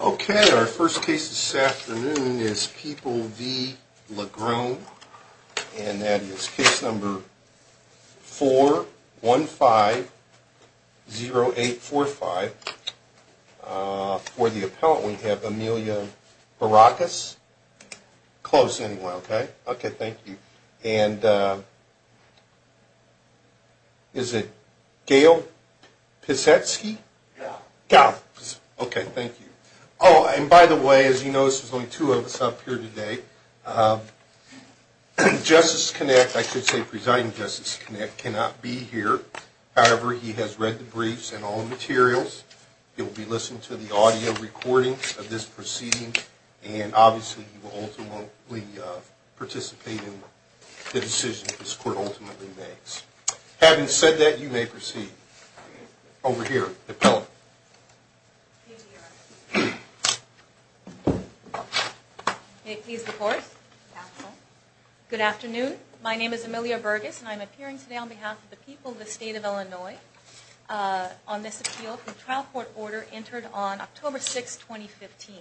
Okay, our first case this afternoon is People v. Lagrone, and that is case number 4150845. For the appellant, we have Amelia Barakas. Close, anyway, okay? Okay, thank you. And is it Gail Pisetsky? Gail Gail, okay, thank you. Oh, and by the way, as you notice, there's only two of us up here today. Justice Kinect, I should say President Justice Kinect, cannot be here. However, he has read the briefs and all the materials. You'll be listening to the audio recordings of this proceeding, and obviously you will ultimately participate in the decision this Court ultimately makes. Having said that, you may proceed. Over here, the appellant. May it please the Court? Good afternoon. My name is Amelia Barakas, and I'm appearing today on behalf of the people of the State of Illinois on this appeal for the trial court order entered on October 6, 2015.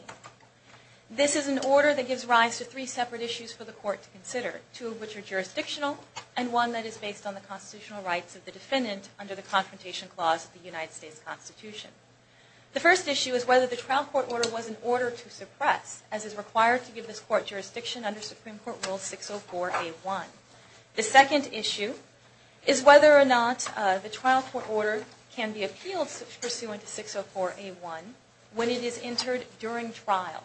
This is an order that gives rise to three separate issues for the Court to consider, two of which are jurisdictional, and one that is based on the constitutional rights of the defendant under the Confrontation Clause of the United States Constitution. The first issue is whether the trial court order was in order to suppress, as is required to give this Court jurisdiction under Supreme Court Rule 604A1. The second issue is whether or not the trial court order can be appealed pursuant to 604A1 when it is entered during trial,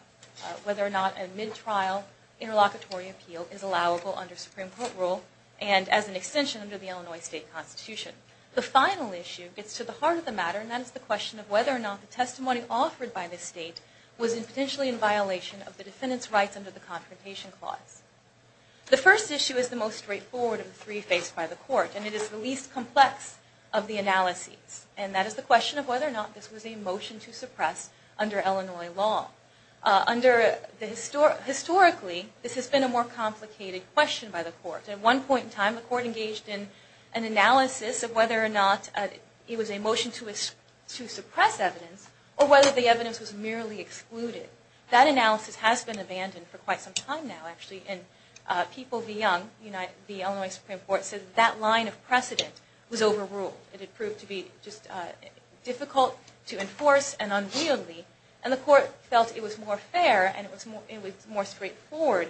whether or not a mid-trial interlocutory appeal is allowable under Supreme Court Rule and as an extension under the Illinois State Constitution. The final issue gets to the heart of the matter, and that is the question of whether or not the testimony offered by the State was potentially in violation of the defendant's rights under the Confrontation Clause. The first issue is the most straightforward of the three faced by the Court, and it is the least complex of the analyses, and that is the question of whether or not this was a motion to suppress under Illinois law. Historically, this has been a more complicated question by the Court. At one point in time, the Court engaged in an analysis of whether or not it was a motion to suppress evidence, or whether the evidence was merely excluded. That analysis has been abandoned for quite some time now, actually, and People v. Young, the Illinois Supreme Court, said that line of precedent was overruled. It had proved to be just difficult to enforce and unwieldy, and the Court felt it was more fair and it was more straightforward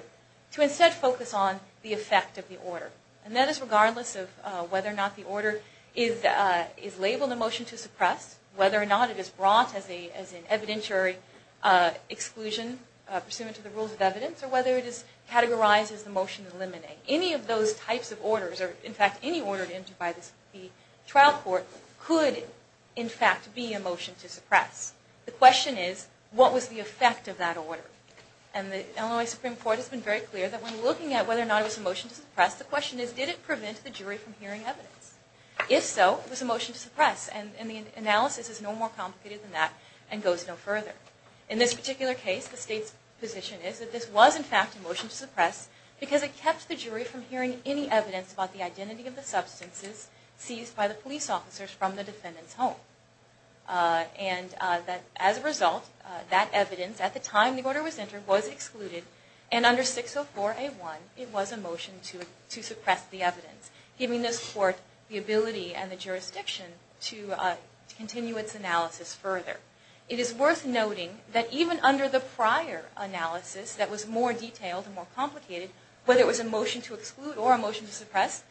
to instead focus on the effect of the order. And that is regardless of whether or not the order is labeled a motion to suppress, whether or not it is brought as an evidentiary exclusion pursuant to the rules of evidence, or whether it is categorized as a motion to eliminate, any of those types of orders, or in fact any order entered by the trial court, could in fact be a motion to suppress. The question is, what was the effect of that order? And the Illinois Supreme Court has been very clear that when looking at whether or not it was a motion to suppress, the question is, did it prevent the jury from hearing evidence? If so, was it a motion to suppress? And the analysis is no more complicated than that and goes no further. In this particular case, the State's position is that this was in fact a motion to suppress because it kept the jury from hearing any evidence about the identity of the substances seized by the police officers from the defendant's home. And as a result, that evidence, at the time the order was entered, was excluded, and under 604A1, it was a motion to suppress the evidence, giving this court the ability and the jurisdiction to continue its analysis further. It is worth noting that even under the prior analysis that was more detailed and more complicated, whether it was a motion to exclude or a motion to suppress,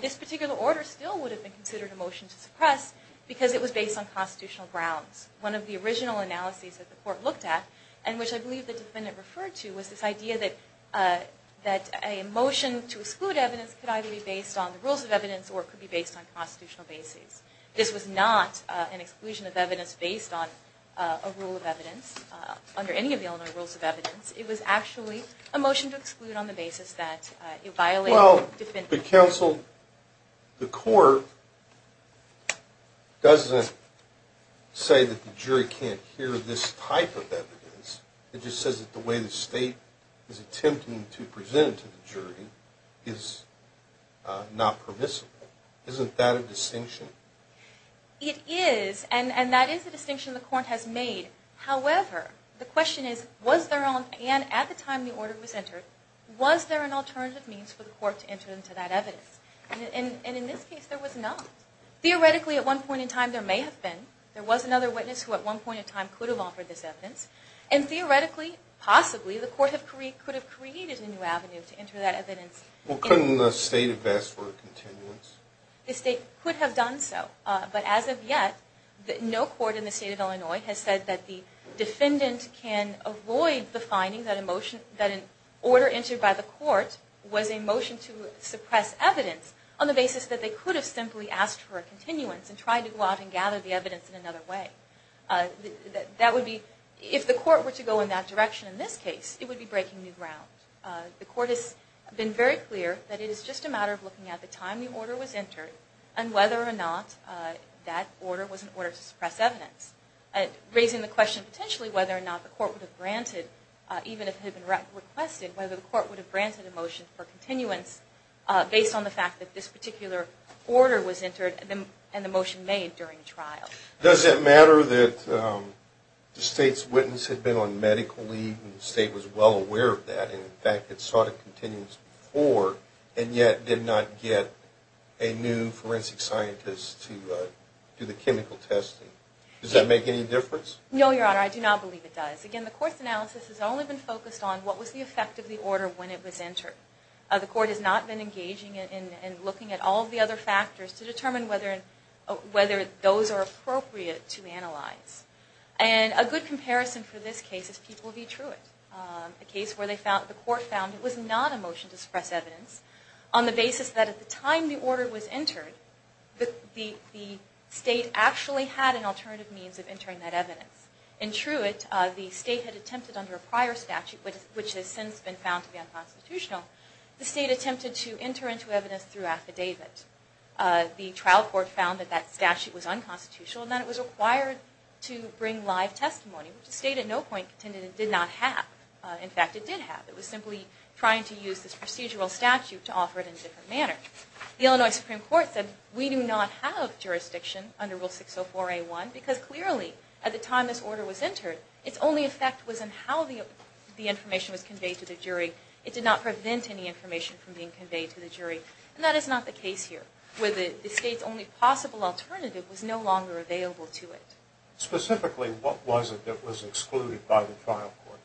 this particular order still would have been considered a motion to suppress because it was based on constitutional grounds. One of the original analyses that the court looked at, and which I believe the defendant referred to, was this idea that a motion to exclude evidence could either be based on the rules of evidence or it could be based on constitutional basis. This was not an exclusion of evidence based on a rule of evidence, under any of the Illinois rules of evidence. It was actually a motion to exclude on the basis that it violated the defendant. Well, the court doesn't say that the jury can't hear this type of evidence. It just says that the way the state is attempting to present it to the jury is not permissible. Isn't that a distinction? It is, and that is a distinction the court has made. However, the question is, was there an alternative means for the court to enter into that evidence? And in this case, there was not. Theoretically, at one point in time, there may have been. There was another witness who at one point in time could have offered this evidence. And theoretically, possibly, the court could have created a new avenue to enter that evidence. Well, couldn't the state have asked for a continuance? The state could have done so. But as of yet, no court in the state of Illinois has said that the defendant can avoid the finding that an order entered by the court was a motion to suppress evidence on the basis that they could have simply asked for a continuance and tried to go out and gather the evidence in another way. If the court were to go in that direction in this case, it would be breaking new ground. The court has been very clear that it is just a matter of looking at the time the order was entered and whether or not that order was an order to suppress evidence, raising the question potentially whether or not the court would have granted, even if it had been requested, whether the court would have granted a motion for continuance based on the fact that this particular order was entered and the motion made during the trial. Does it matter that the state's witness had been on medical leave and the state was well aware of that and in fact had sought a continuance before and yet did not get a new forensic scientist to do the chemical testing? Does that make any difference? No, Your Honor. I do not believe it does. Again, the court's analysis has only been focused on what was the effect of the order when it was entered. The court has not been engaging in looking at all of the other factors to determine whether those are appropriate to analyze. And a good comparison for this case is People v. Truitt, a case where the court found it was not a motion to suppress evidence on the basis that at the time the order was entered, the state actually had an alternative means of entering that evidence. In Truitt, the state had attempted under a prior statute, which has since been found to be unconstitutional, the state attempted to enter into evidence through affidavit. The trial court found that that statute was unconstitutional and that it was required to bring live testimony, which the state at no point contended it did not have. In fact, it did have. It was simply trying to use this procedural statute to offer it in a different manner. The Illinois Supreme Court said we do not have jurisdiction under Rule 604A1 because clearly at the time this order was entered, its only effect was in how the information was conveyed to the jury. It did not prevent any information from being conveyed to the jury. And that is not the case here, where the state's only possible alternative was no longer available to it. Specifically, what was it that was excluded by the trial court?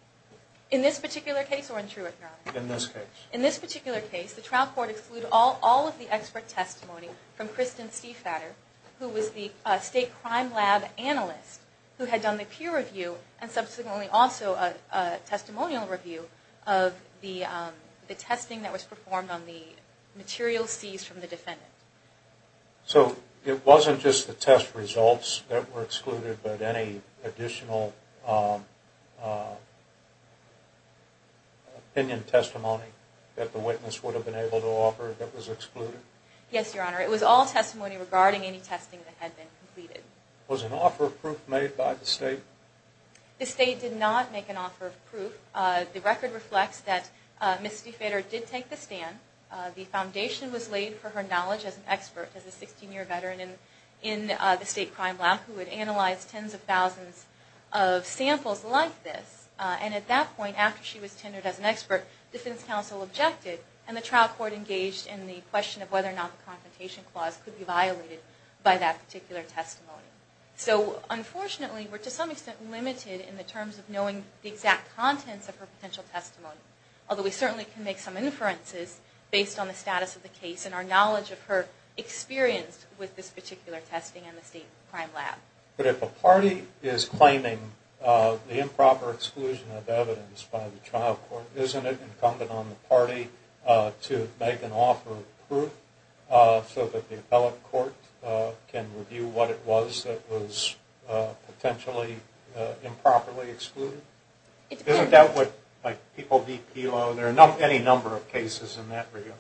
In this particular case or in Truitt? In this case. In this particular case, the trial court excluded all of the expert testimony from Kristen Stiefvater, who was the state crime lab analyst, who had done the peer review and subsequently also a testimonial review of the testing that was performed on the materials seized from the defendant. So it wasn't just the test results that were excluded, but any additional opinion testimony that the witness would have been able to offer that was excluded? Yes, Your Honor. It was all testimony regarding any testing that had been completed. Was an offer of proof made by the state? The state did not make an offer of proof. The record reflects that Ms. Stiefvater did take the stand. The foundation was laid for her knowledge as an expert, as a 16-year veteran in the state crime lab who had analyzed tens of thousands of samples like this. And at that point, after she was tenured as an expert, defense counsel objected and the trial court engaged in the question of whether or not the confrontation clause could be violated by that particular testimony. So, unfortunately, we're to some extent limited in the terms of knowing the exact contents of her potential testimony, although we certainly can make some inferences based on the status of the case and our knowledge of her experience with this particular testing in the state crime lab. But if a party is claiming the improper exclusion of evidence by the trial court, isn't it incumbent on the party to make an offer of proof so that the appellate court can review what it was that was potentially improperly excluded? Isn't that what, like, people de-PILO? There are any number of cases in that regard.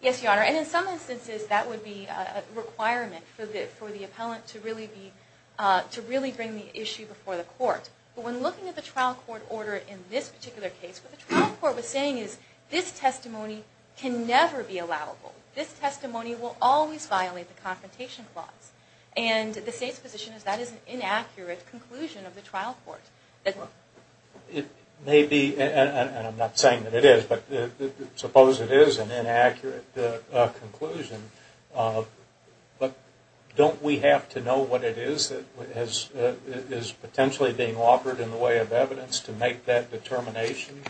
Yes, Your Honor. And in some instances, that would be a requirement for the appellant to really bring the issue before the court. But when looking at the trial court order in this particular case, what the trial court was saying is this testimony can never be allowable. This testimony will always violate the confrontation clause. And the state's position is that is an inaccurate conclusion of the trial court. It may be, and I'm not saying that it is, but suppose it is an inaccurate conclusion. But don't we have to know what it is that is potentially being offered in the way of evidence to make that determination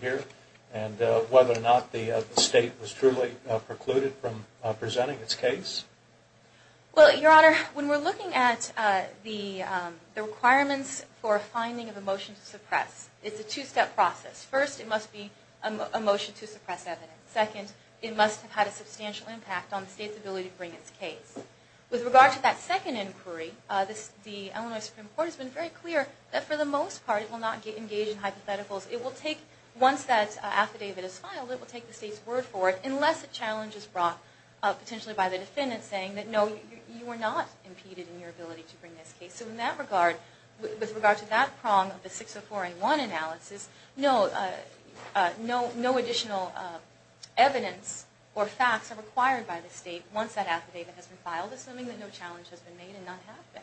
here? And whether or not the state was truly precluded from presenting its case? Well, Your Honor, when we're looking at the requirements for finding of a motion to suppress, it's a two-step process. First, it must be a motion to suppress evidence. Second, it must have had a substantial impact on the state's ability to bring its case. With regard to that second inquiry, the Illinois Supreme Court has been very clear that for the most part it will not engage in hypotheticals. It will take, once that affidavit is filed, it will take the state's word for it, unless a challenge is brought potentially by the defendant saying that no, you were not impeded in your ability to bring this case. So in that regard, with regard to that prong of the 604A1 analysis, no additional evidence or facts are required by the state once that affidavit has been filed, assuming that no challenge has been made and none have been.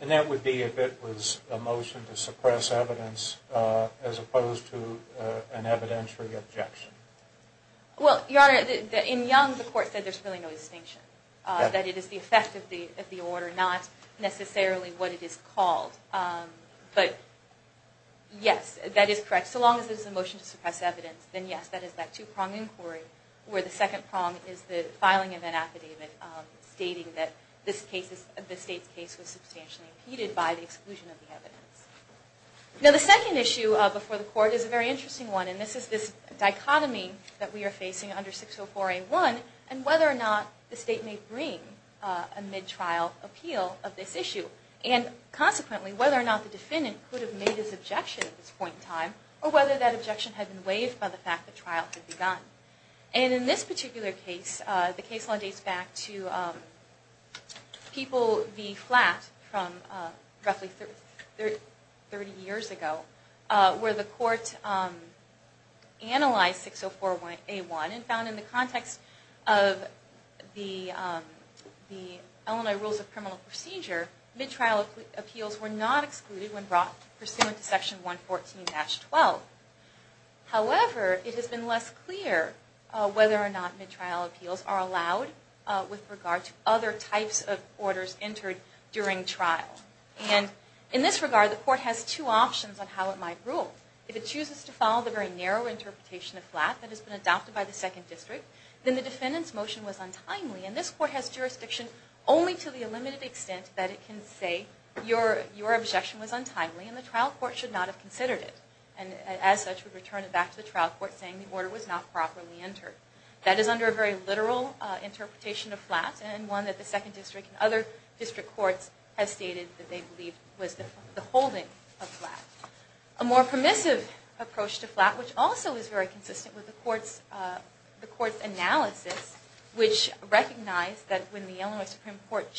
And that would be if it was a motion to suppress evidence as opposed to an evidentiary objection? Well, Your Honor, in Young, the court said there's really no distinction, that it is the effect of the order, not necessarily what it is called. But yes, that is correct. So long as it is a motion to suppress evidence, then yes, that is that two-prong inquiry, where the second prong is the filing of an affidavit stating that the state's case was substantially impeded by the exclusion of the evidence. Now the second issue before the court is a very interesting one, and this is this dichotomy that we are facing under 604A1, and whether or not the state may bring a mid-trial appeal of this issue. And consequently, whether or not the defendant could have made his objection at this point in time, or whether that objection had been waived by the fact that trial had begun. And in this particular case, the case law dates back to People v. Flatt from roughly 30 years ago, where the court analyzed 604A1 and found in the context of the Illinois Rules of Criminal Procedure, mid-trial appeals were not excluded when brought pursuant to Section 114-12. However, it has been less clear whether or not mid-trial appeals are allowed with regard to other types of orders entered during trial. And in this regard, the court has two options on how it might rule. If it chooses to follow the very narrow interpretation of Flatt that has been adopted by the Second District, then the defendant's motion was untimely. And this court has jurisdiction only to the limited extent that it can say, your objection was untimely and the trial court should not have considered it. And as such, would return it back to the trial court saying the order was not properly entered. That is under a very literal interpretation of Flatt, and one that the Second District and other district courts have stated that they believe was the holding of Flatt. A more permissive approach to Flatt, which also is very consistent with the court's analysis, which recognized that when the Illinois Supreme Court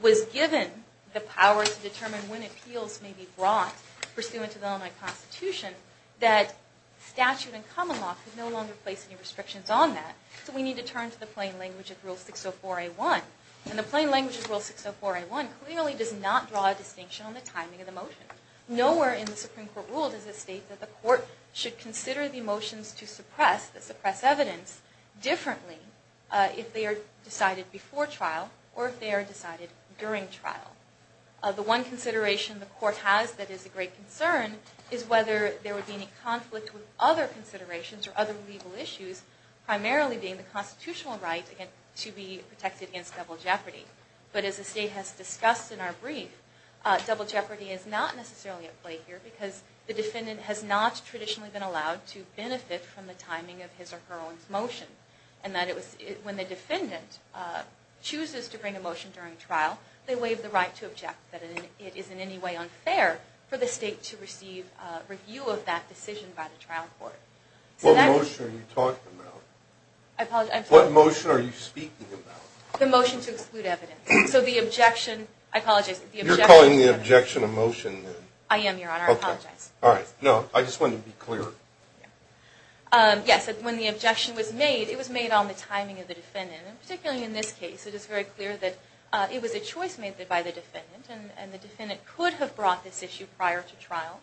was given the power to determine when appeals may be brought pursuant to the Illinois Constitution, that statute and common law could no longer place any restrictions on that. So we need to turn to the plain language of Rule 604-A1. And the plain language of Rule 604-A1 clearly does not draw a distinction on the timing of the motion. Nowhere in the Supreme Court rule does it state that the court should consider the motions to suppress, that suppress evidence, differently if they are decided before trial or if they are decided during trial. The one consideration the court has that is of great concern is whether there would be any conflict with other considerations or other legal issues, primarily being the constitutional right to be protected against double jeopardy. But as the State has discussed in our brief, double jeopardy is not necessarily at play here because the defendant has not traditionally been allowed to benefit from the timing of his or her own motion. And when the defendant chooses to bring a motion during trial, they waive the right to object, that it is in any way unfair for the State to receive review of that decision by the trial court. What motion are you talking about? What motion are you speaking about? The motion to exclude evidence. So the objection, I apologize. You're calling the objection a motion then? I am, Your Honor. I apologize. All right. No, I just wanted to be clear. Yes, when the objection was made, it was made on the timing of the defendant. And particularly in this case, it is very clear that it was a choice made by the defendant, and the defendant could have brought this issue prior to trial,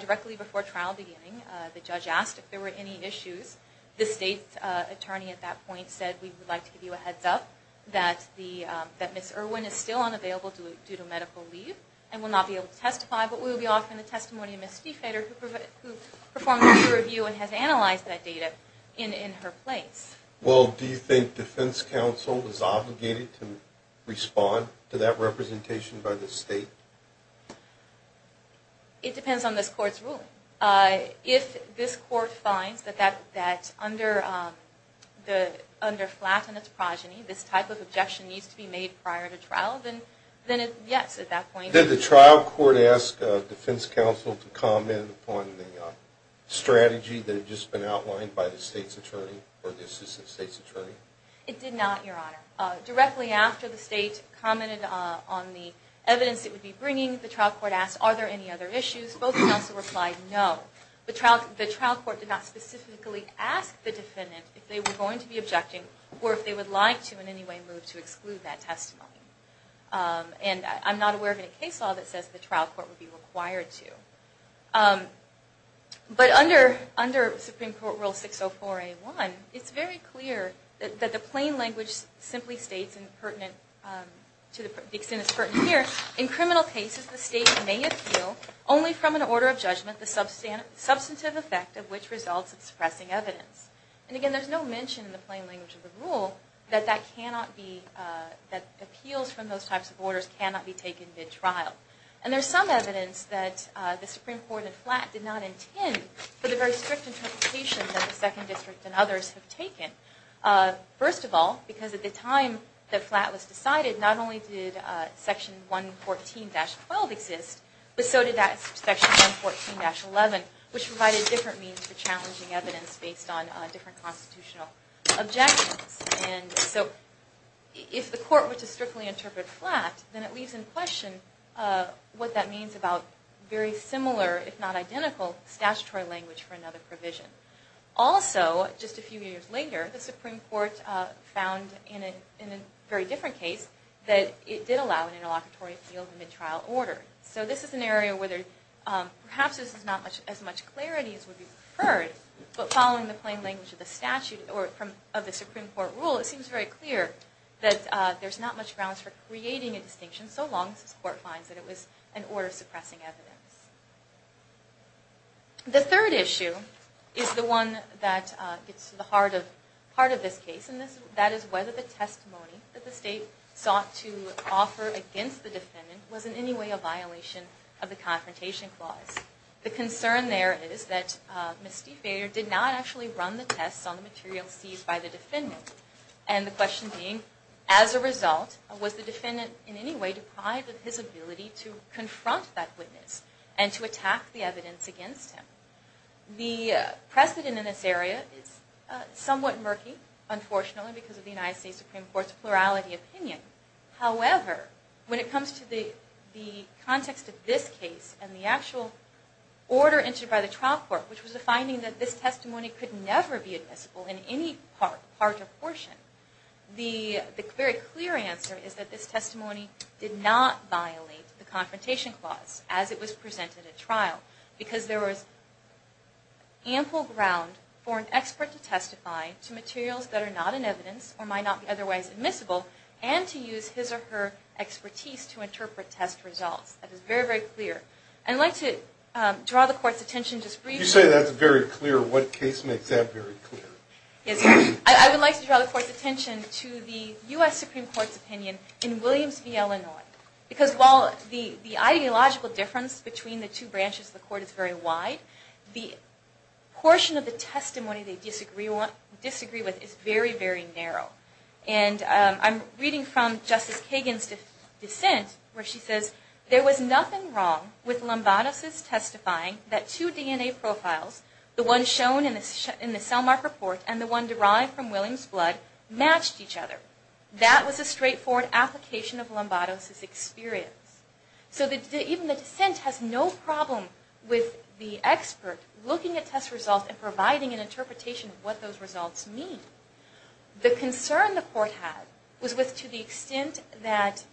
directly before trial beginning. The judge asked if there were any issues. The State attorney at that point said, we would like to give you a heads up that Ms. Irwin is still unavailable due to medical leave and will not be able to testify, but we will be offering the testimony of Ms. Stiefvater, who performed peer review and has analyzed that data in her place. Well, do you think defense counsel is obligated to respond to that representation by the State? It depends on this Court's ruling. If this Court finds that under flattened progeny, this type of objection needs to be made prior to trial, then yes, at that point. Did the trial court ask defense counsel to comment on the strategy that had just been outlined by the State's attorney, or the assistant State's attorney? It did not, Your Honor. Directly after the State commented on the evidence it would be bringing, the trial court asked, are there any other issues? Both counsel replied, no. The trial court did not specifically ask the defendant if they were going to be objecting, or if they would like to in any way move to exclude that testimony. And I'm not aware of any case law that says the trial court would be required to. But under Supreme Court Rule 604A1, it's very clear that the plain language simply states, and pertinent to the extent it's pertinent here, in criminal cases the State may appeal only from an order of judgment, the substantive effect of which results in suppressing evidence. And again, there's no mention in the plain language of the rule that appeals from those types of orders cannot be taken mid-trial. And there's some evidence that the Supreme Court and Flatt did not intend for the very strict interpretation that the Second District and others have taken. First of all, because at the time that Flatt was decided, not only did Section 114-12 exist, but so did Section 114-11, which provided different means for challenging evidence based on different constitutional objections. And so if the court were to strictly interpret Flatt, then it leaves in question what that means about very similar, if not identical, statutory language for another provision. Also, just a few years later, the Supreme Court found in a very different case that it did allow an interlocutory appeal of a mid-trial order. So this is an area where perhaps not as much clarity as would be preferred, but following the plain language of the statute or of the Supreme Court rule, it seems very clear that there's not much grounds for creating a distinction so long as this court finds that it was an order suppressing evidence. The third issue is the one that gets to the heart of this case, and that is whether the testimony that the state sought to offer against the defendant was in any way a violation of the Confrontation Clause. The concern there is that Ms. Stiefvater did not actually run the tests on the material seized by the defendant, and the question being, as a result, was the defendant in any way deprived of his ability to confront that witness and to attack the evidence against him? The precedent in this area is somewhat murky, unfortunately, because of the United States Supreme Court's plurality opinion. However, when it comes to the context of this case and the actual order entered by the trial court, which was the finding that this testimony could never be admissible in any part or portion, the very clear answer is that this testimony did not violate the Confrontation Clause as it was presented at trial, because there was ample ground for an expert to testify to materials that are not in evidence or might not be otherwise admissible and to use his or her expertise to interpret test results. That is very, very clear. I'd like to draw the Court's attention just briefly... You say that's very clear. What case makes that very clear? I would like to draw the Court's attention to the U.S. Supreme Court's opinion in Williams v. Illinois, because while the ideological difference between the two branches of the Court is very wide, the portion of the testimony they disagree with is very, very narrow. And I'm reading from Justice Kagan's dissent where she says, there was nothing wrong with Lombardos' testifying that two DNA profiles, the one shown in the cellmark report and the one derived from Williams' blood, matched each other. That was a straightforward application of Lombardos' experience. So even the dissent has no problem with the expert looking at test results and providing an interpretation of what those results mean. The concern the Court had was to the extent that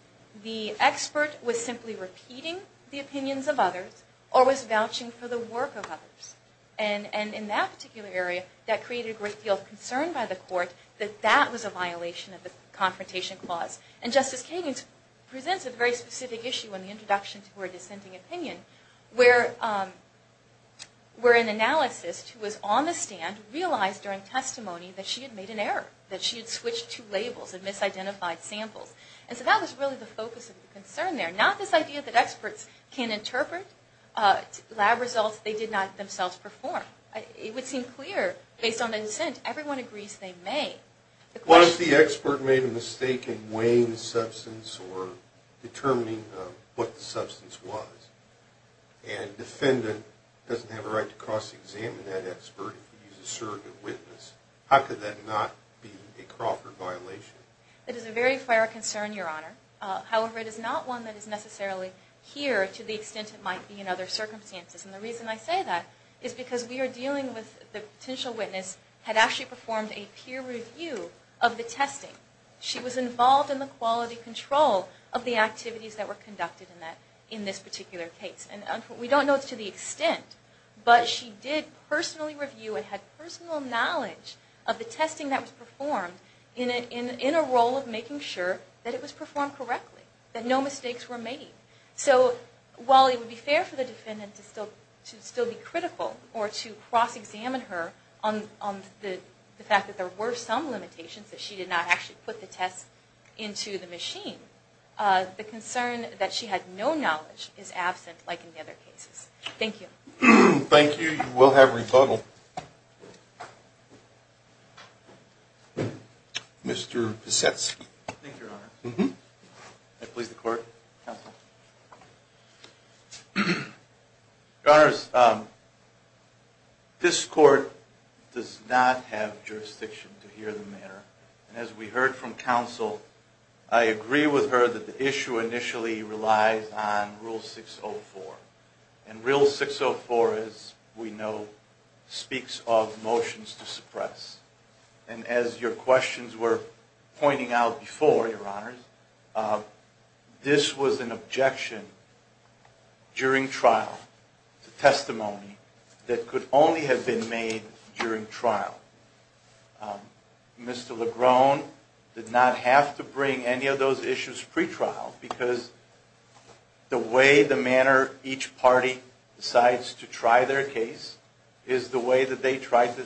the expert was simply repeating the opinions of others or was vouching for the work of others. And in that particular area, that created a great deal of concern by the Court that that was a violation of the Confrontation Clause. And Justice Kagan presents a very specific issue in the introduction to her dissenting opinion, where an analyst who was on the stand realized during testimony that she had made an error, that she had switched two labels and misidentified samples. And so that was really the focus of the concern there, not this idea that experts can interpret lab results they did not themselves perform. It would seem clear based on the dissent, everyone agrees they may. Was the expert made a mistake in weighing the substance or determining what the substance was? And a defendant doesn't have a right to cross-examine that expert if he's a surrogate witness. How could that not be a Crawford violation? That is a very fair concern, Your Honor. However, it is not one that is necessarily here to the extent it might be in other circumstances. And the reason I say that is because we are dealing with the potential witness had actually performed a peer review of the testing. She was involved in the quality control of the activities that were conducted in this particular case. We don't know to the extent, but she did personally review and had personal knowledge of the testing that was performed in a role of making sure that it was performed correctly, that no mistakes were made. So while it would be fair for the defendant to still be critical or to cross-examine her on the fact that there were some limitations, that she did not actually put the test into the machine, the concern that she had no knowledge is absent like in the other cases. Thank you. Thank you. You will have rebuttal. Mr. Pesetsky. Thank you, Your Honor. May I please the court? Your Honors, this court does not have jurisdiction to hear the matter. And as we heard from counsel, I agree with her that the issue initially relies on Rule 604. And Rule 604, as we know, speaks of motions to suppress. And as your questions were pointing out before, Your Honors, this was an objection during trial, a testimony that could only have been made during trial. Mr. Legrone did not have to bring any of those issues pre-trial because the way the manner each party decides to try their case is the way that they tried to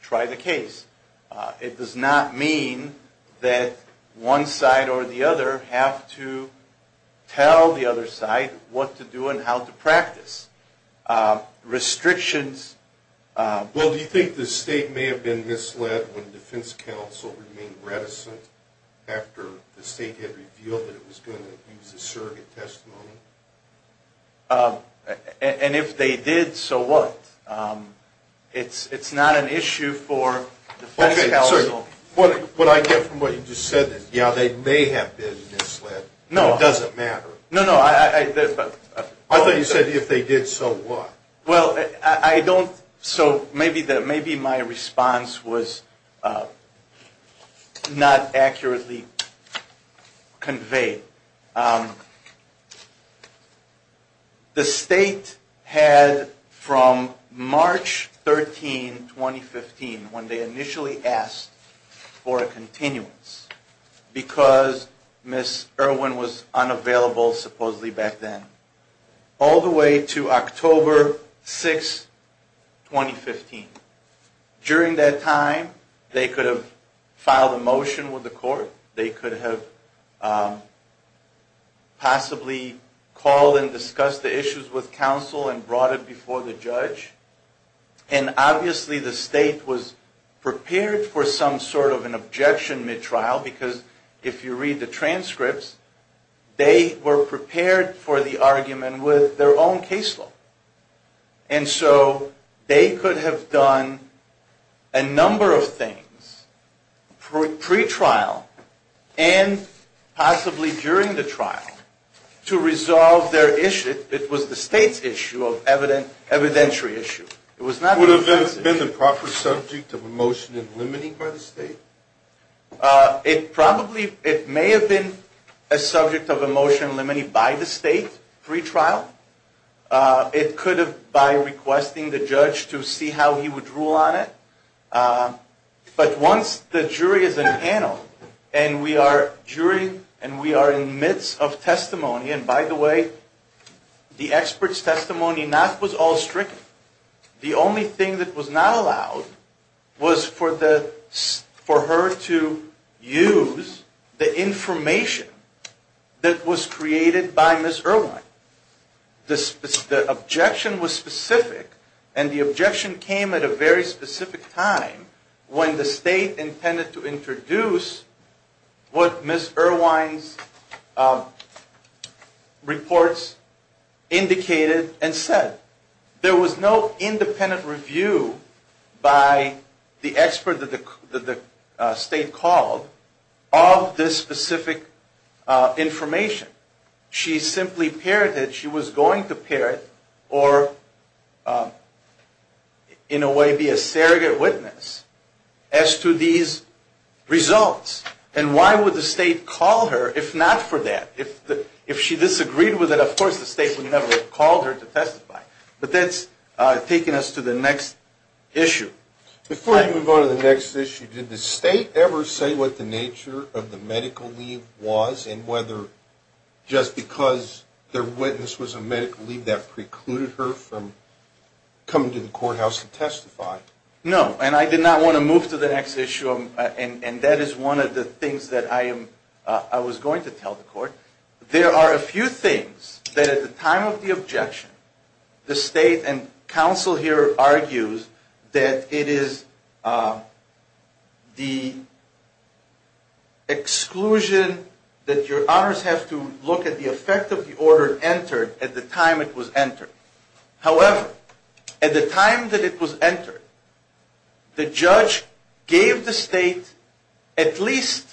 try the case. It does not mean that one side or the other have to tell the other side what to do and how to practice. Restrictions. Well, do you think the state may have been misled when defense counsel remained reticent after the state had revealed that it was going to use a surrogate testimony? And if they did, so what? It's not an issue for defense counsel. What I get from what you just said is, yeah, they may have been misled. It doesn't matter. No, no. I thought you said, if they did, so what? Well, I don't. So maybe my response was not accurately conveyed. The state had, from March 13, 2015, when they initially asked for a continuance, because Ms. Irwin was unavailable supposedly back then, all the way to October 6, 2015. During that time, they could have filed a motion with the court. They could have possibly called and discussed the issues with counsel and brought it before the judge. And obviously the state was prepared for some sort of an objection mid-trial, because if you read the transcripts, they were prepared for the argument with their own case law. And so they could have done a number of things pre-trial and possibly during the trial to resolve their issue. It was the state's issue of evidentiary issue. Would it have been the proper subject of a motion in limine by the state? It may have been a subject of a motion in limine by the state pre-trial. It could have been by requesting the judge to see how he would rule on it. But once the jury is in panel and we are in the midst of testimony, and by the way, the expert's testimony was not all stricken. The only thing that was not allowed was for her to use the information that was created by Ms. Irwin. The objection was specific, and the objection came at a very specific time when the state intended to introduce what Ms. Irwin's reports indicated and said. There was no independent review by the expert that the state called of this specific information. She simply parried it. She was going to parry it or in a way be a surrogate witness as to these results. And why would the state call her if not for that? If she disagreed with it, of course the state would never have called her to testify. But that's taken us to the next issue. Before you move on to the next issue, did the state ever say what the nature of the medical leave was and whether just because their witness was a medical leave, that precluded her from coming to the courthouse to testify? No, and I did not want to move to the next issue, and that is one of the things that I was going to tell the court. There are a few things that at the time of the objection, the state and counsel here argues that it is the exclusion, that your honors have to look at the effect of the order entered at the time it was entered. However, at the time that it was entered, the judge gave the state at least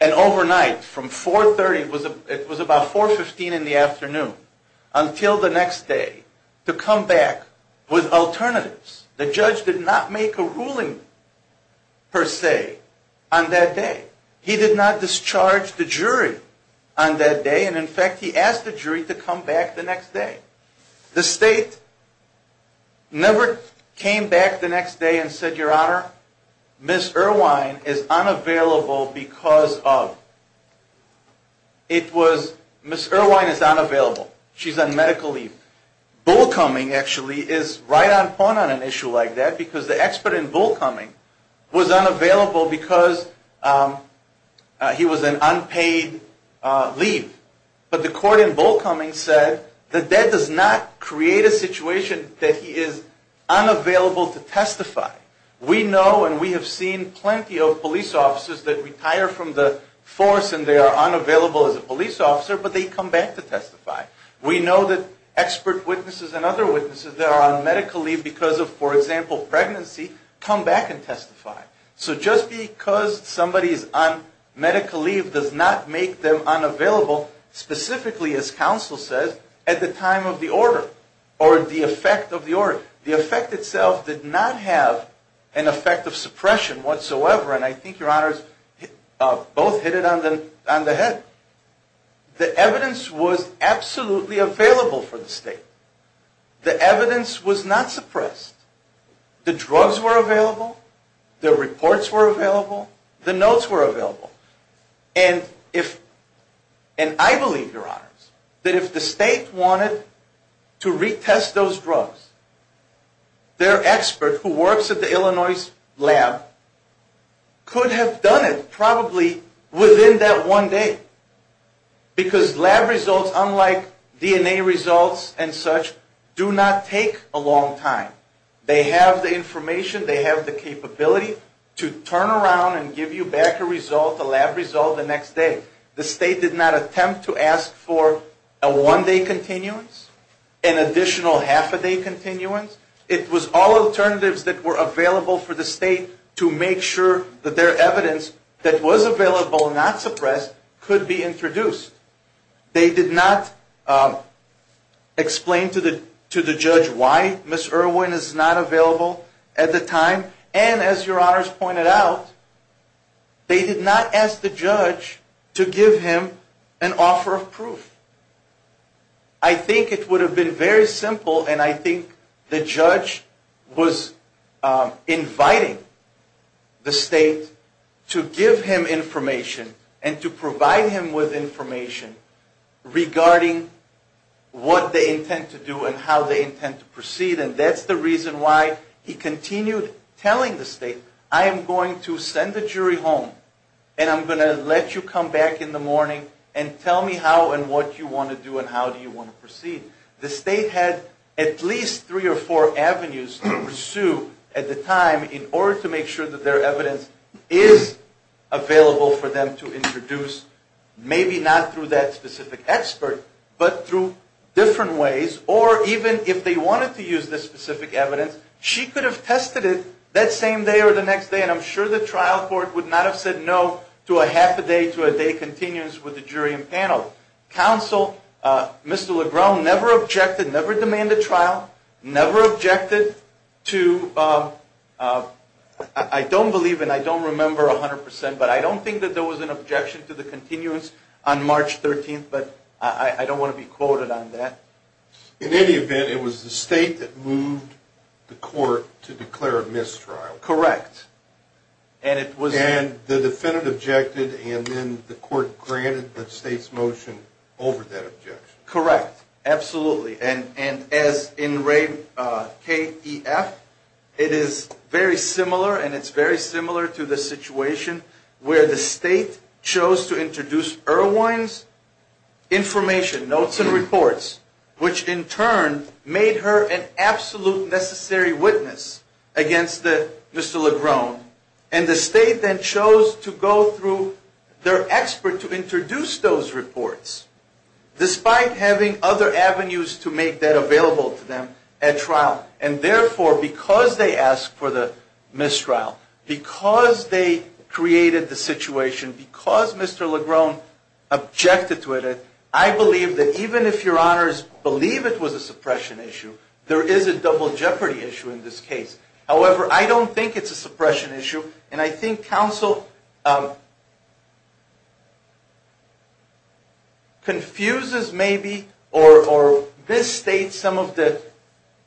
an overnight, from 4.30, it was about 4.15 in the afternoon, until the next day to come back with alternatives. The judge did not make a ruling per se on that day. He did not discharge the jury on that day, and in fact he asked the jury to come back the next day. The state never came back the next day and said, Your Honor, Ms. Irwine is unavailable because of... Ms. Irwine is unavailable. She's on medical leave. Bullcoming, actually, is right on point on an issue like that, because the expert in Bullcoming was unavailable because he was on unpaid leave. But the court in Bullcoming said that that does not create a situation that he is unavailable to testify. We know and we have seen plenty of police officers that retire from the force and they are unavailable as a police officer, but they come back to testify. We know that expert witnesses and other witnesses that are on medical leave because of, for example, pregnancy, come back and testify. So just because somebody is on medical leave does not make them unavailable, specifically, as counsel says, at the time of the order or the effect of the order. The effect itself did not have an effect of suppression whatsoever, and I think, Your Honors, both hit it on the head. The evidence was absolutely available for the state. The evidence was not suppressed. The drugs were available. The reports were available. The notes were available. And I believe, Your Honors, that if the state wanted to retest those drugs, their expert who works at the Illinois lab could have done it probably within that one day, because lab results, unlike DNA results and such, do not take a long time. They have the information. They have the capability to turn around and give you back a result, a lab result, the next day. The state did not attempt to ask for a one-day continuance, an additional half-a-day continuance. It was all alternatives that were available for the state to make sure that their evidence that was available, not suppressed, could be introduced. They did not explain to the judge why Ms. Irwin is not available. At the time, and as Your Honors pointed out, they did not ask the judge to give him an offer of proof. I think it would have been very simple, and I think the judge was inviting the state to give him information and to provide him with information regarding what they intend to do and how they intend to proceed, and that's the reason why he continued telling the state, I am going to send the jury home, and I'm going to let you come back in the morning and tell me how and what you want to do and how do you want to proceed. The state had at least three or four avenues to pursue at the time in order to make sure that their evidence is available for them to introduce, maybe not through that specific expert, but through different ways, or even if they wanted to use this specific evidence, she could have tested it that same day or the next day, and I'm sure the trial court would not have said no to a half a day to a day continuance with the jury and panel. Counsel, Mr. Legron, never objected, never demanded trial, never objected to, I don't believe and I don't remember 100%, but I don't think that there was an objection to the continuance on March 13th, but I don't want to be quoted on that. In any event, it was the state that moved the court to declare a mistrial. Correct. And the defendant objected and then the court granted the state's motion over that objection. Correct. Absolutely. And as in K-E-F, it is very similar and it's very similar to the situation where the state chose to introduce Irwin's information, notes and reports, which in turn made her an absolute necessary witness against Mr. Legron, and the state then chose to go through their expert to introduce those reports, despite having other avenues to make that available to them at trial. And therefore, because they asked for the mistrial, because they created the situation, because Mr. Legron objected to it, I believe that even if your honors believe it was a suppression issue, there is a double jeopardy issue in this case. However, I don't think it's a suppression issue, and I think counsel confuses maybe or misstates some of the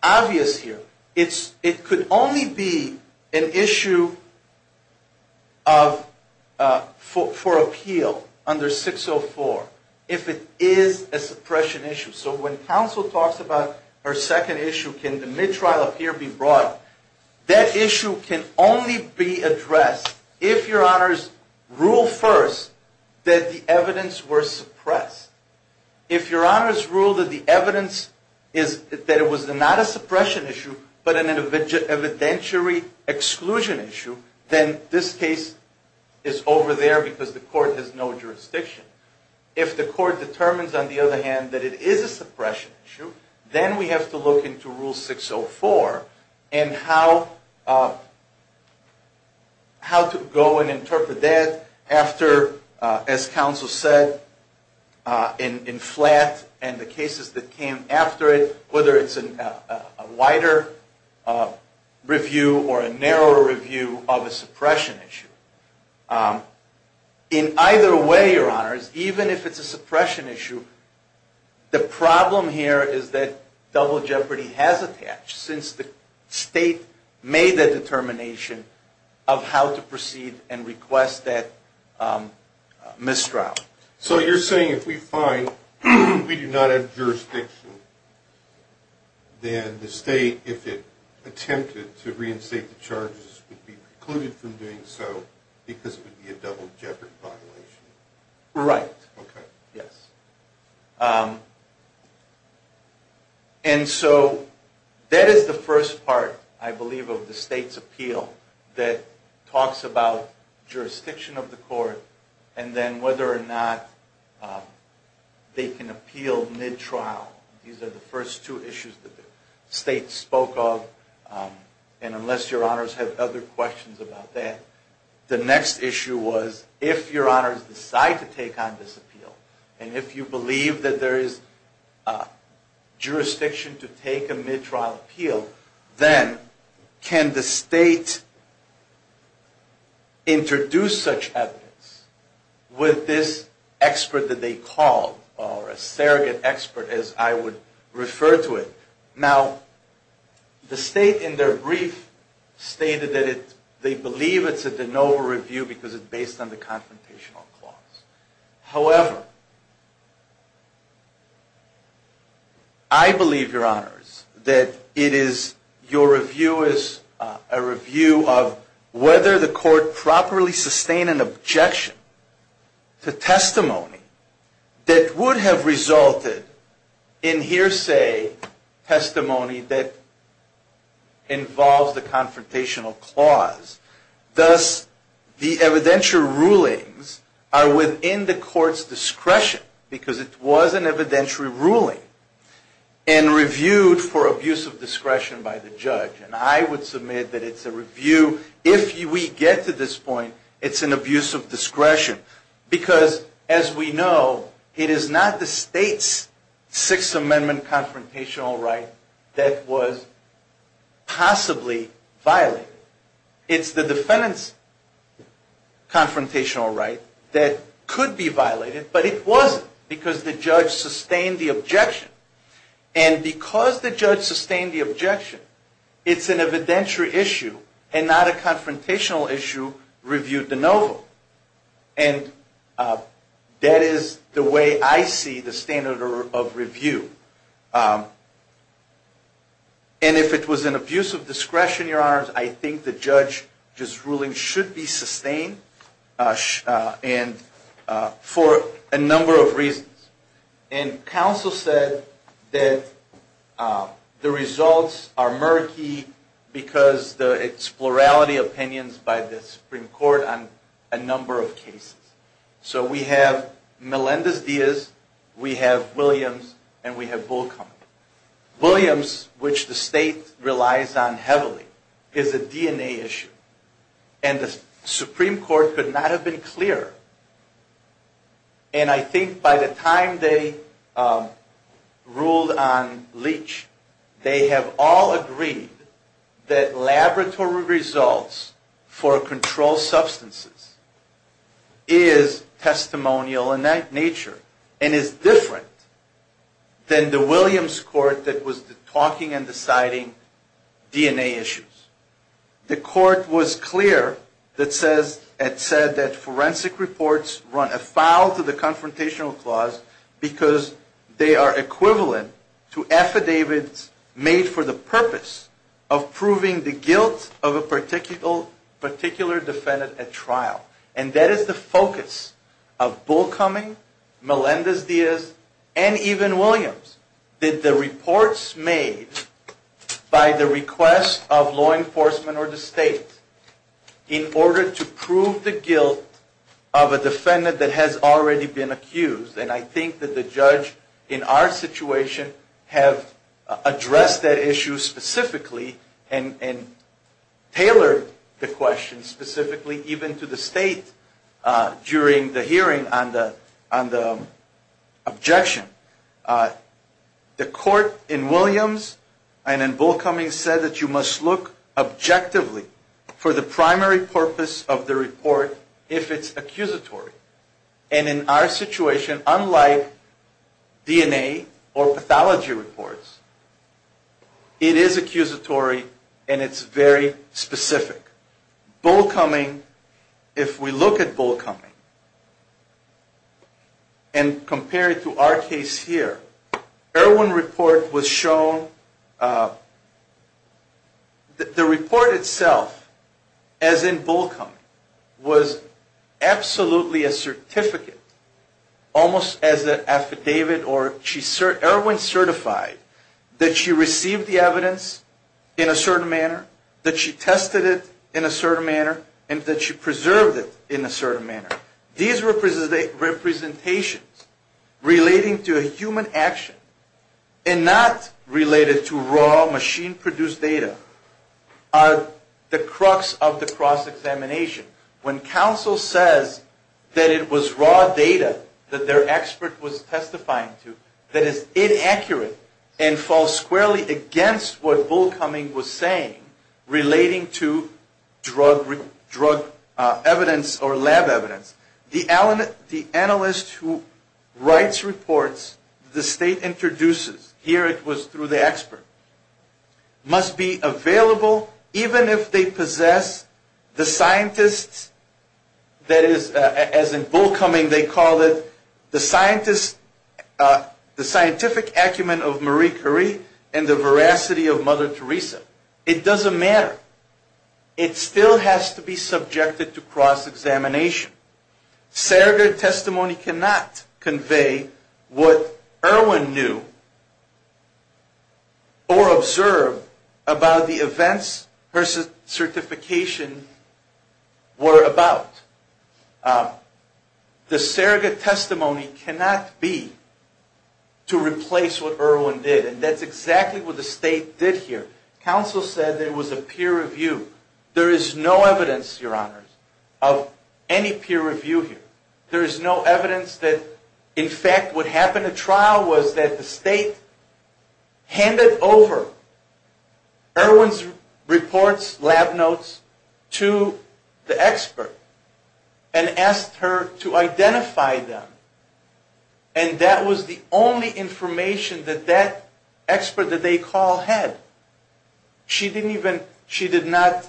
obvious here. It could only be an issue for appeal under 604 if it is a suppression issue. So when counsel talks about her second issue, can the mistrial up here be brought, that issue can only be addressed if your honors rule first that the evidence were suppressed. If your honors rule that the evidence is that it was not a suppression issue, but an evidentiary exclusion issue, then this case is over there because the court has no jurisdiction. If the court determines, on the other hand, that it is a suppression issue, then we have to look into rule 604 and how to go and interpret that after, as counsel said, in flat and the cases that came after it, whether it's a wider review or a narrower review of a suppression issue. In either way, your honors, even if it's a suppression issue, the problem here is that double jeopardy has attached since the state made the determination of how to proceed and request that mistrial. So you're saying if we find we do not have jurisdiction, then the state, if it attempted to reinstate the charges, would be precluded from doing so because it would be a double jeopardy violation? Right. Yes. And so that is the first part, I believe, of the state's appeal that talks about jurisdiction of the court and then whether or not they can appeal mid-trial. These are the first two issues that the state spoke of, and unless your honors have other questions about that, the next issue was if your honors decide to take on this appeal and if you believe that there is jurisdiction to take a mid-trial appeal, then can the state introduce such evidence with this expert that they called, or a surrogate expert as I would refer to it. Now, the state in their brief stated that they believe it's a de novo review because it's based on the that it is your review is a review of whether the court properly sustained an objection to testimony that would have resulted in hearsay testimony that involves the confrontational clause. Thus, the evidentiary rulings are within the court's discretion because it was an evidentiary ruling. And reviewed for abuse of discretion by the judge. And I would submit that it's a review if we get to this point, it's an abuse of discretion. Because as we know, it is not the state's Sixth Amendment confrontational right that was possibly violated. It's the defendant's confrontational right that could be violated, but it wasn't because the judge sustained the objection and because the judge sustained the objection, it's an evidentiary issue and not a confrontational issue reviewed de novo. And that is the way I see the standard of review. And if it was an abuse of discretion, your honors, I think the judge's ruling should be sustained for a number of reasons. And counsel said that the results are murky because it's plurality opinions by the Supreme Court on a number of cases. So we have Melendez-Diaz, we have Williams, and we have Bull Compton. Williams, which the state relies on heavily, is a DNA issue. And the Supreme Court could not have been clearer. And I think by the time they ruled on Leach, they have all agreed that laboratory results for controlled substances is testimonial in nature and is different than the Williams court that was talking and deciding DNA issues. The court was clear that said that forensic reports run afoul to the confrontational clause because they are equivalent to affidavits made for the purpose of proving the guilt of a particular defendant at trial. And that is the focus of Bull Compton, Melendez-Diaz, and even Williams. The question is, did the reports made by the request of law enforcement or the state, in order to prove the guilt of a defendant that has already been accused, and I think that the judge in our situation have addressed that issue specifically and tailored the question specifically even to the state during the hearing on the objection. The court in Williams and in Bull Cummings said that you must look objectively for the primary purpose of the report if it's accusatory. And in our situation, unlike DNA or pathology reports, it is accusatory and it's very specific. Bull Cumming, if we look at Bull Cumming and compare it to our case here, Erwin report was shown, the report itself, as in Bull Cumming, was absolutely a certificate, almost as an affidavit, or Erwin certified that she received the evidence in a certain manner, that she tested it in a certain manner, and that she preserved it in a certain manner. These representations relating to a human action and not related to raw machine-produced data are the crux of the cross-examination. When counsel says that it was raw data that their expert was testifying to that is inaccurate and falls squarely against what Bull Cumming was saying relating to drug evidence or lab evidence, the analyst who writes reports, the state introduces, here it was through the expert, must be available even if they possess the scientists, that is, as in Bull Cumming they call it, the scientific acumen of Marie Curie and the veracity of Mother Teresa. It doesn't matter. It still has to be subjected to cross-examination. Surrogate testimony cannot convey what Erwin knew or observed about the events her certification were about. The surrogate testimony cannot be to replace what Erwin did, and that's exactly what the state did here. Counsel said there was a peer review. There is no evidence, Your Honors, of any peer review here. There is no evidence that, in fact, what happened at trial was that the state handed over Erwin's reports, lab notes, to the expert and asked her to identify them, and that was the only information that that expert that they call had. She didn't even, she did not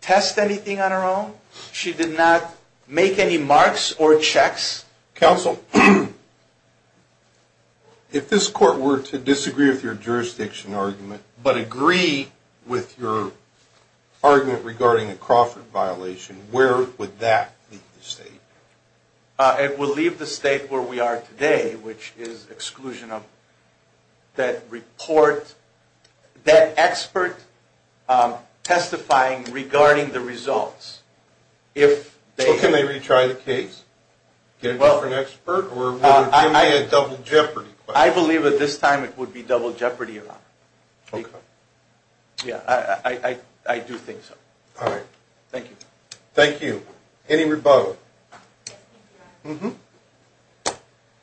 test anything on her own. She did not make any marks or checks. Counsel, if this court were to disagree with your jurisdiction argument but agree with your argument regarding a Crawford violation, where would that leave the state? It would leave the state where we are today, which is exclusion of that report, that expert testifying regarding the results. Well, can they retry the case, get a different expert, or would it be a double jeopardy? I believe at this time it would be double jeopardy, Your Honor. I do think so. Thank you. Any rebuttal?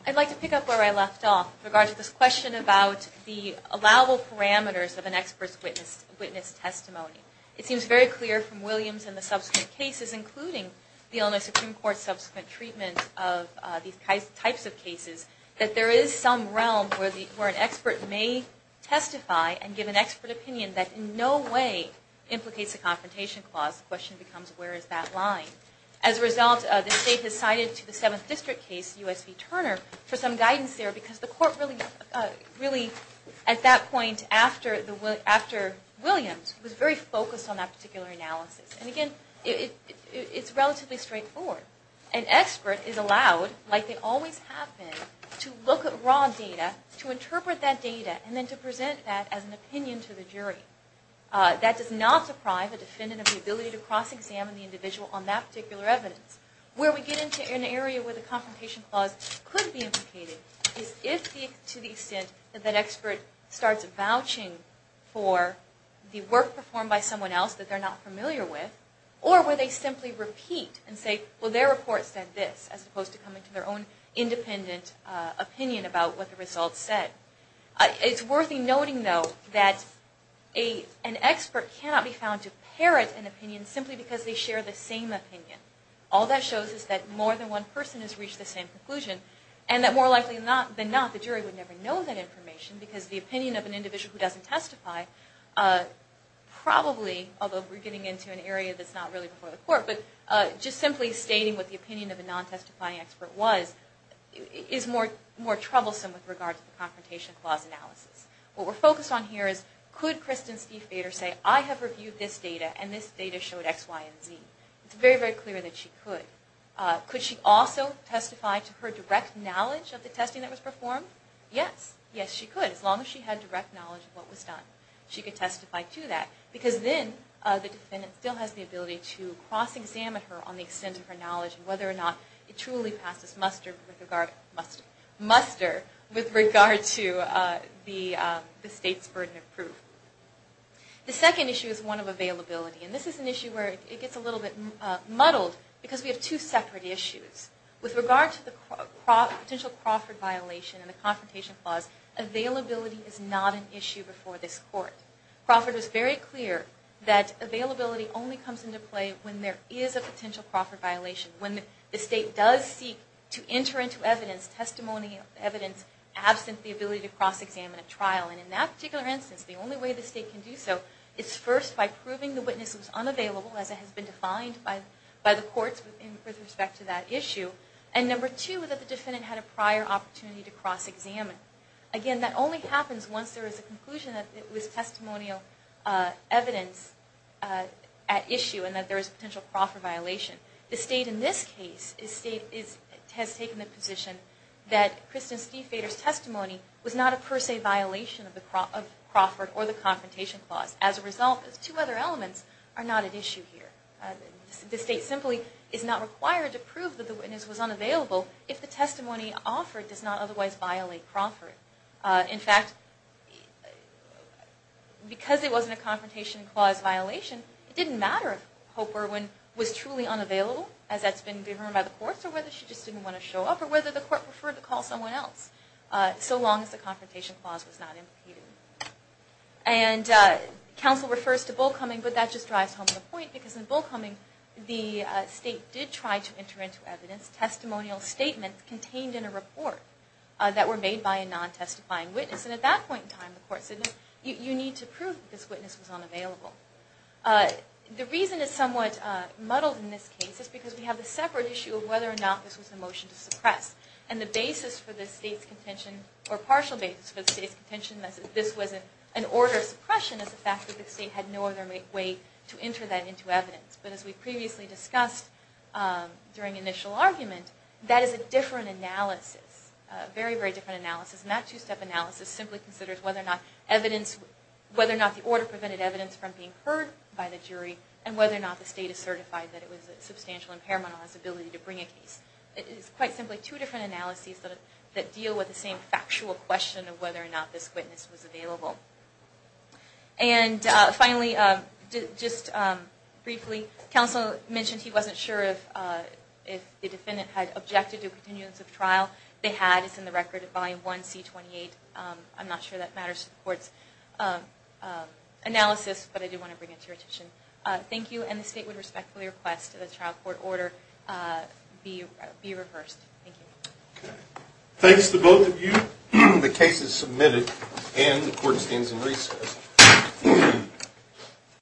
I'd like to pick up where I left off in regards to this question about the allowable parameters of an expert's witness testimony. It seems very clear from Williams and the subsequent cases, including the Illinois Supreme Court's subsequent treatment of these types of cases, that there is some realm where an expert may testify and give an expert opinion that in no way implicates a confrontation case. As a result, the state has cited to the Seventh District case, U.S. v. Turner, for some guidance there because the court really, at that point after Williams, was very focused on that particular analysis. And again, it's relatively straightforward. An expert is allowed, like they always have been, to look at raw data, to interpret that data, and then to present that as an opinion to the jury. That does not deprive a defendant of the ability to cross-examine the individual on that particular evidence. Where we get into an area where the confrontation clause could be implicated is if, to the extent that that expert starts vouching for the work performed by someone else that they're not familiar with, or where they simply repeat and say, well, their report said this, as opposed to coming to their own independent opinion about what the results said. It's worth noting, though, that an expert cannot be found to parrot an opinion simply because they share the same opinion. All that shows is that more than one person has reached the same conclusion, and that more likely than not, the jury would never know that information, because the opinion of an individual who doesn't testify, probably, although we're getting into an area that's not really before the court, but just simply stating what the opinion of a non-testifying expert was, is more troublesome with regard to the confrontation case. What we're focused on here is, could Kristin Stiefvater say, I have reviewed this data, and this data showed X, Y, and Z? It's very, very clear that she could. Could she also testify to her direct knowledge of the testing that was performed? Yes. Yes, she could, as long as she had direct knowledge of what was done. She could testify to that, because then the defendant still has the ability to cross-examine her on the extent of her knowledge, and whether or not it truly passes muster with regard to what was done. The second issue is one of availability, and this is an issue where it gets a little bit muddled, because we have two separate issues. With regard to the potential Crawford violation, and the confrontation clause, availability is not an issue before this court. Crawford is very clear that availability only comes into play when there is a potential Crawford violation, when the state does seek to enter into evidence, testimony of evidence, absent the ability to cross-examine. And in that particular instance, the only way the state can do so is first by proving the witness was unavailable, as it has been defined by the courts with respect to that issue, and number two, that the defendant had a prior opportunity to cross-examine. Again, that only happens once there is a conclusion that it was testimonial evidence at issue, and that there is a potential Crawford violation. The state in this case has taken the position that Kristen Stiefvater's testimony was not a per se violation of Crawford or the confrontation clause. As a result, the two other elements are not at issue here. The state simply is not required to prove that the witness was unavailable if the testimony offered does not otherwise violate Crawford. In fact, because it wasn't a confrontation clause violation, it didn't matter if Hope Irwin was truly unavailable. As that's been determined by the courts, or whether she just didn't want to show up, or whether the court preferred to call someone else, so long as the confrontation clause was not impeded. And counsel refers to Bullcoming, but that just drives home the point, because in Bullcoming, the state did try to enter into evidence, testimonial statements contained in a report that were made by a non-testifying witness. And at that point in time, the court said, you need to prove this witness was unavailable. The reason it's somewhat muddled in this case is because we have a separate issue of whether or not this was a motion to suppress. And the basis for the state's contention, or partial basis for the state's contention, that this was an order of suppression is the fact that the state had no other way to enter that into evidence. But as we previously discussed during initial argument, that is a different analysis, a very, very different analysis. And that two-step analysis simply considers whether or not the order prevented evidence from being heard by the jury, and whether or not the state is certified that it was a substantial impairment on its ability to bring a case. It is quite simply two different analyses that deal with the same factual question of whether or not this witness was available. And finally, just briefly, counsel mentioned he wasn't sure if the defendant had objected to continuance of trial. They had, it's in the record, Volume 1, C-28. I'm not sure that matters to the court's analysis, but I did want to bring it to your attention. Thank you, and the state would respectfully request that the trial court order be reversed. Thank you. Thanks to both of you. The case is submitted, and the court stands in recess.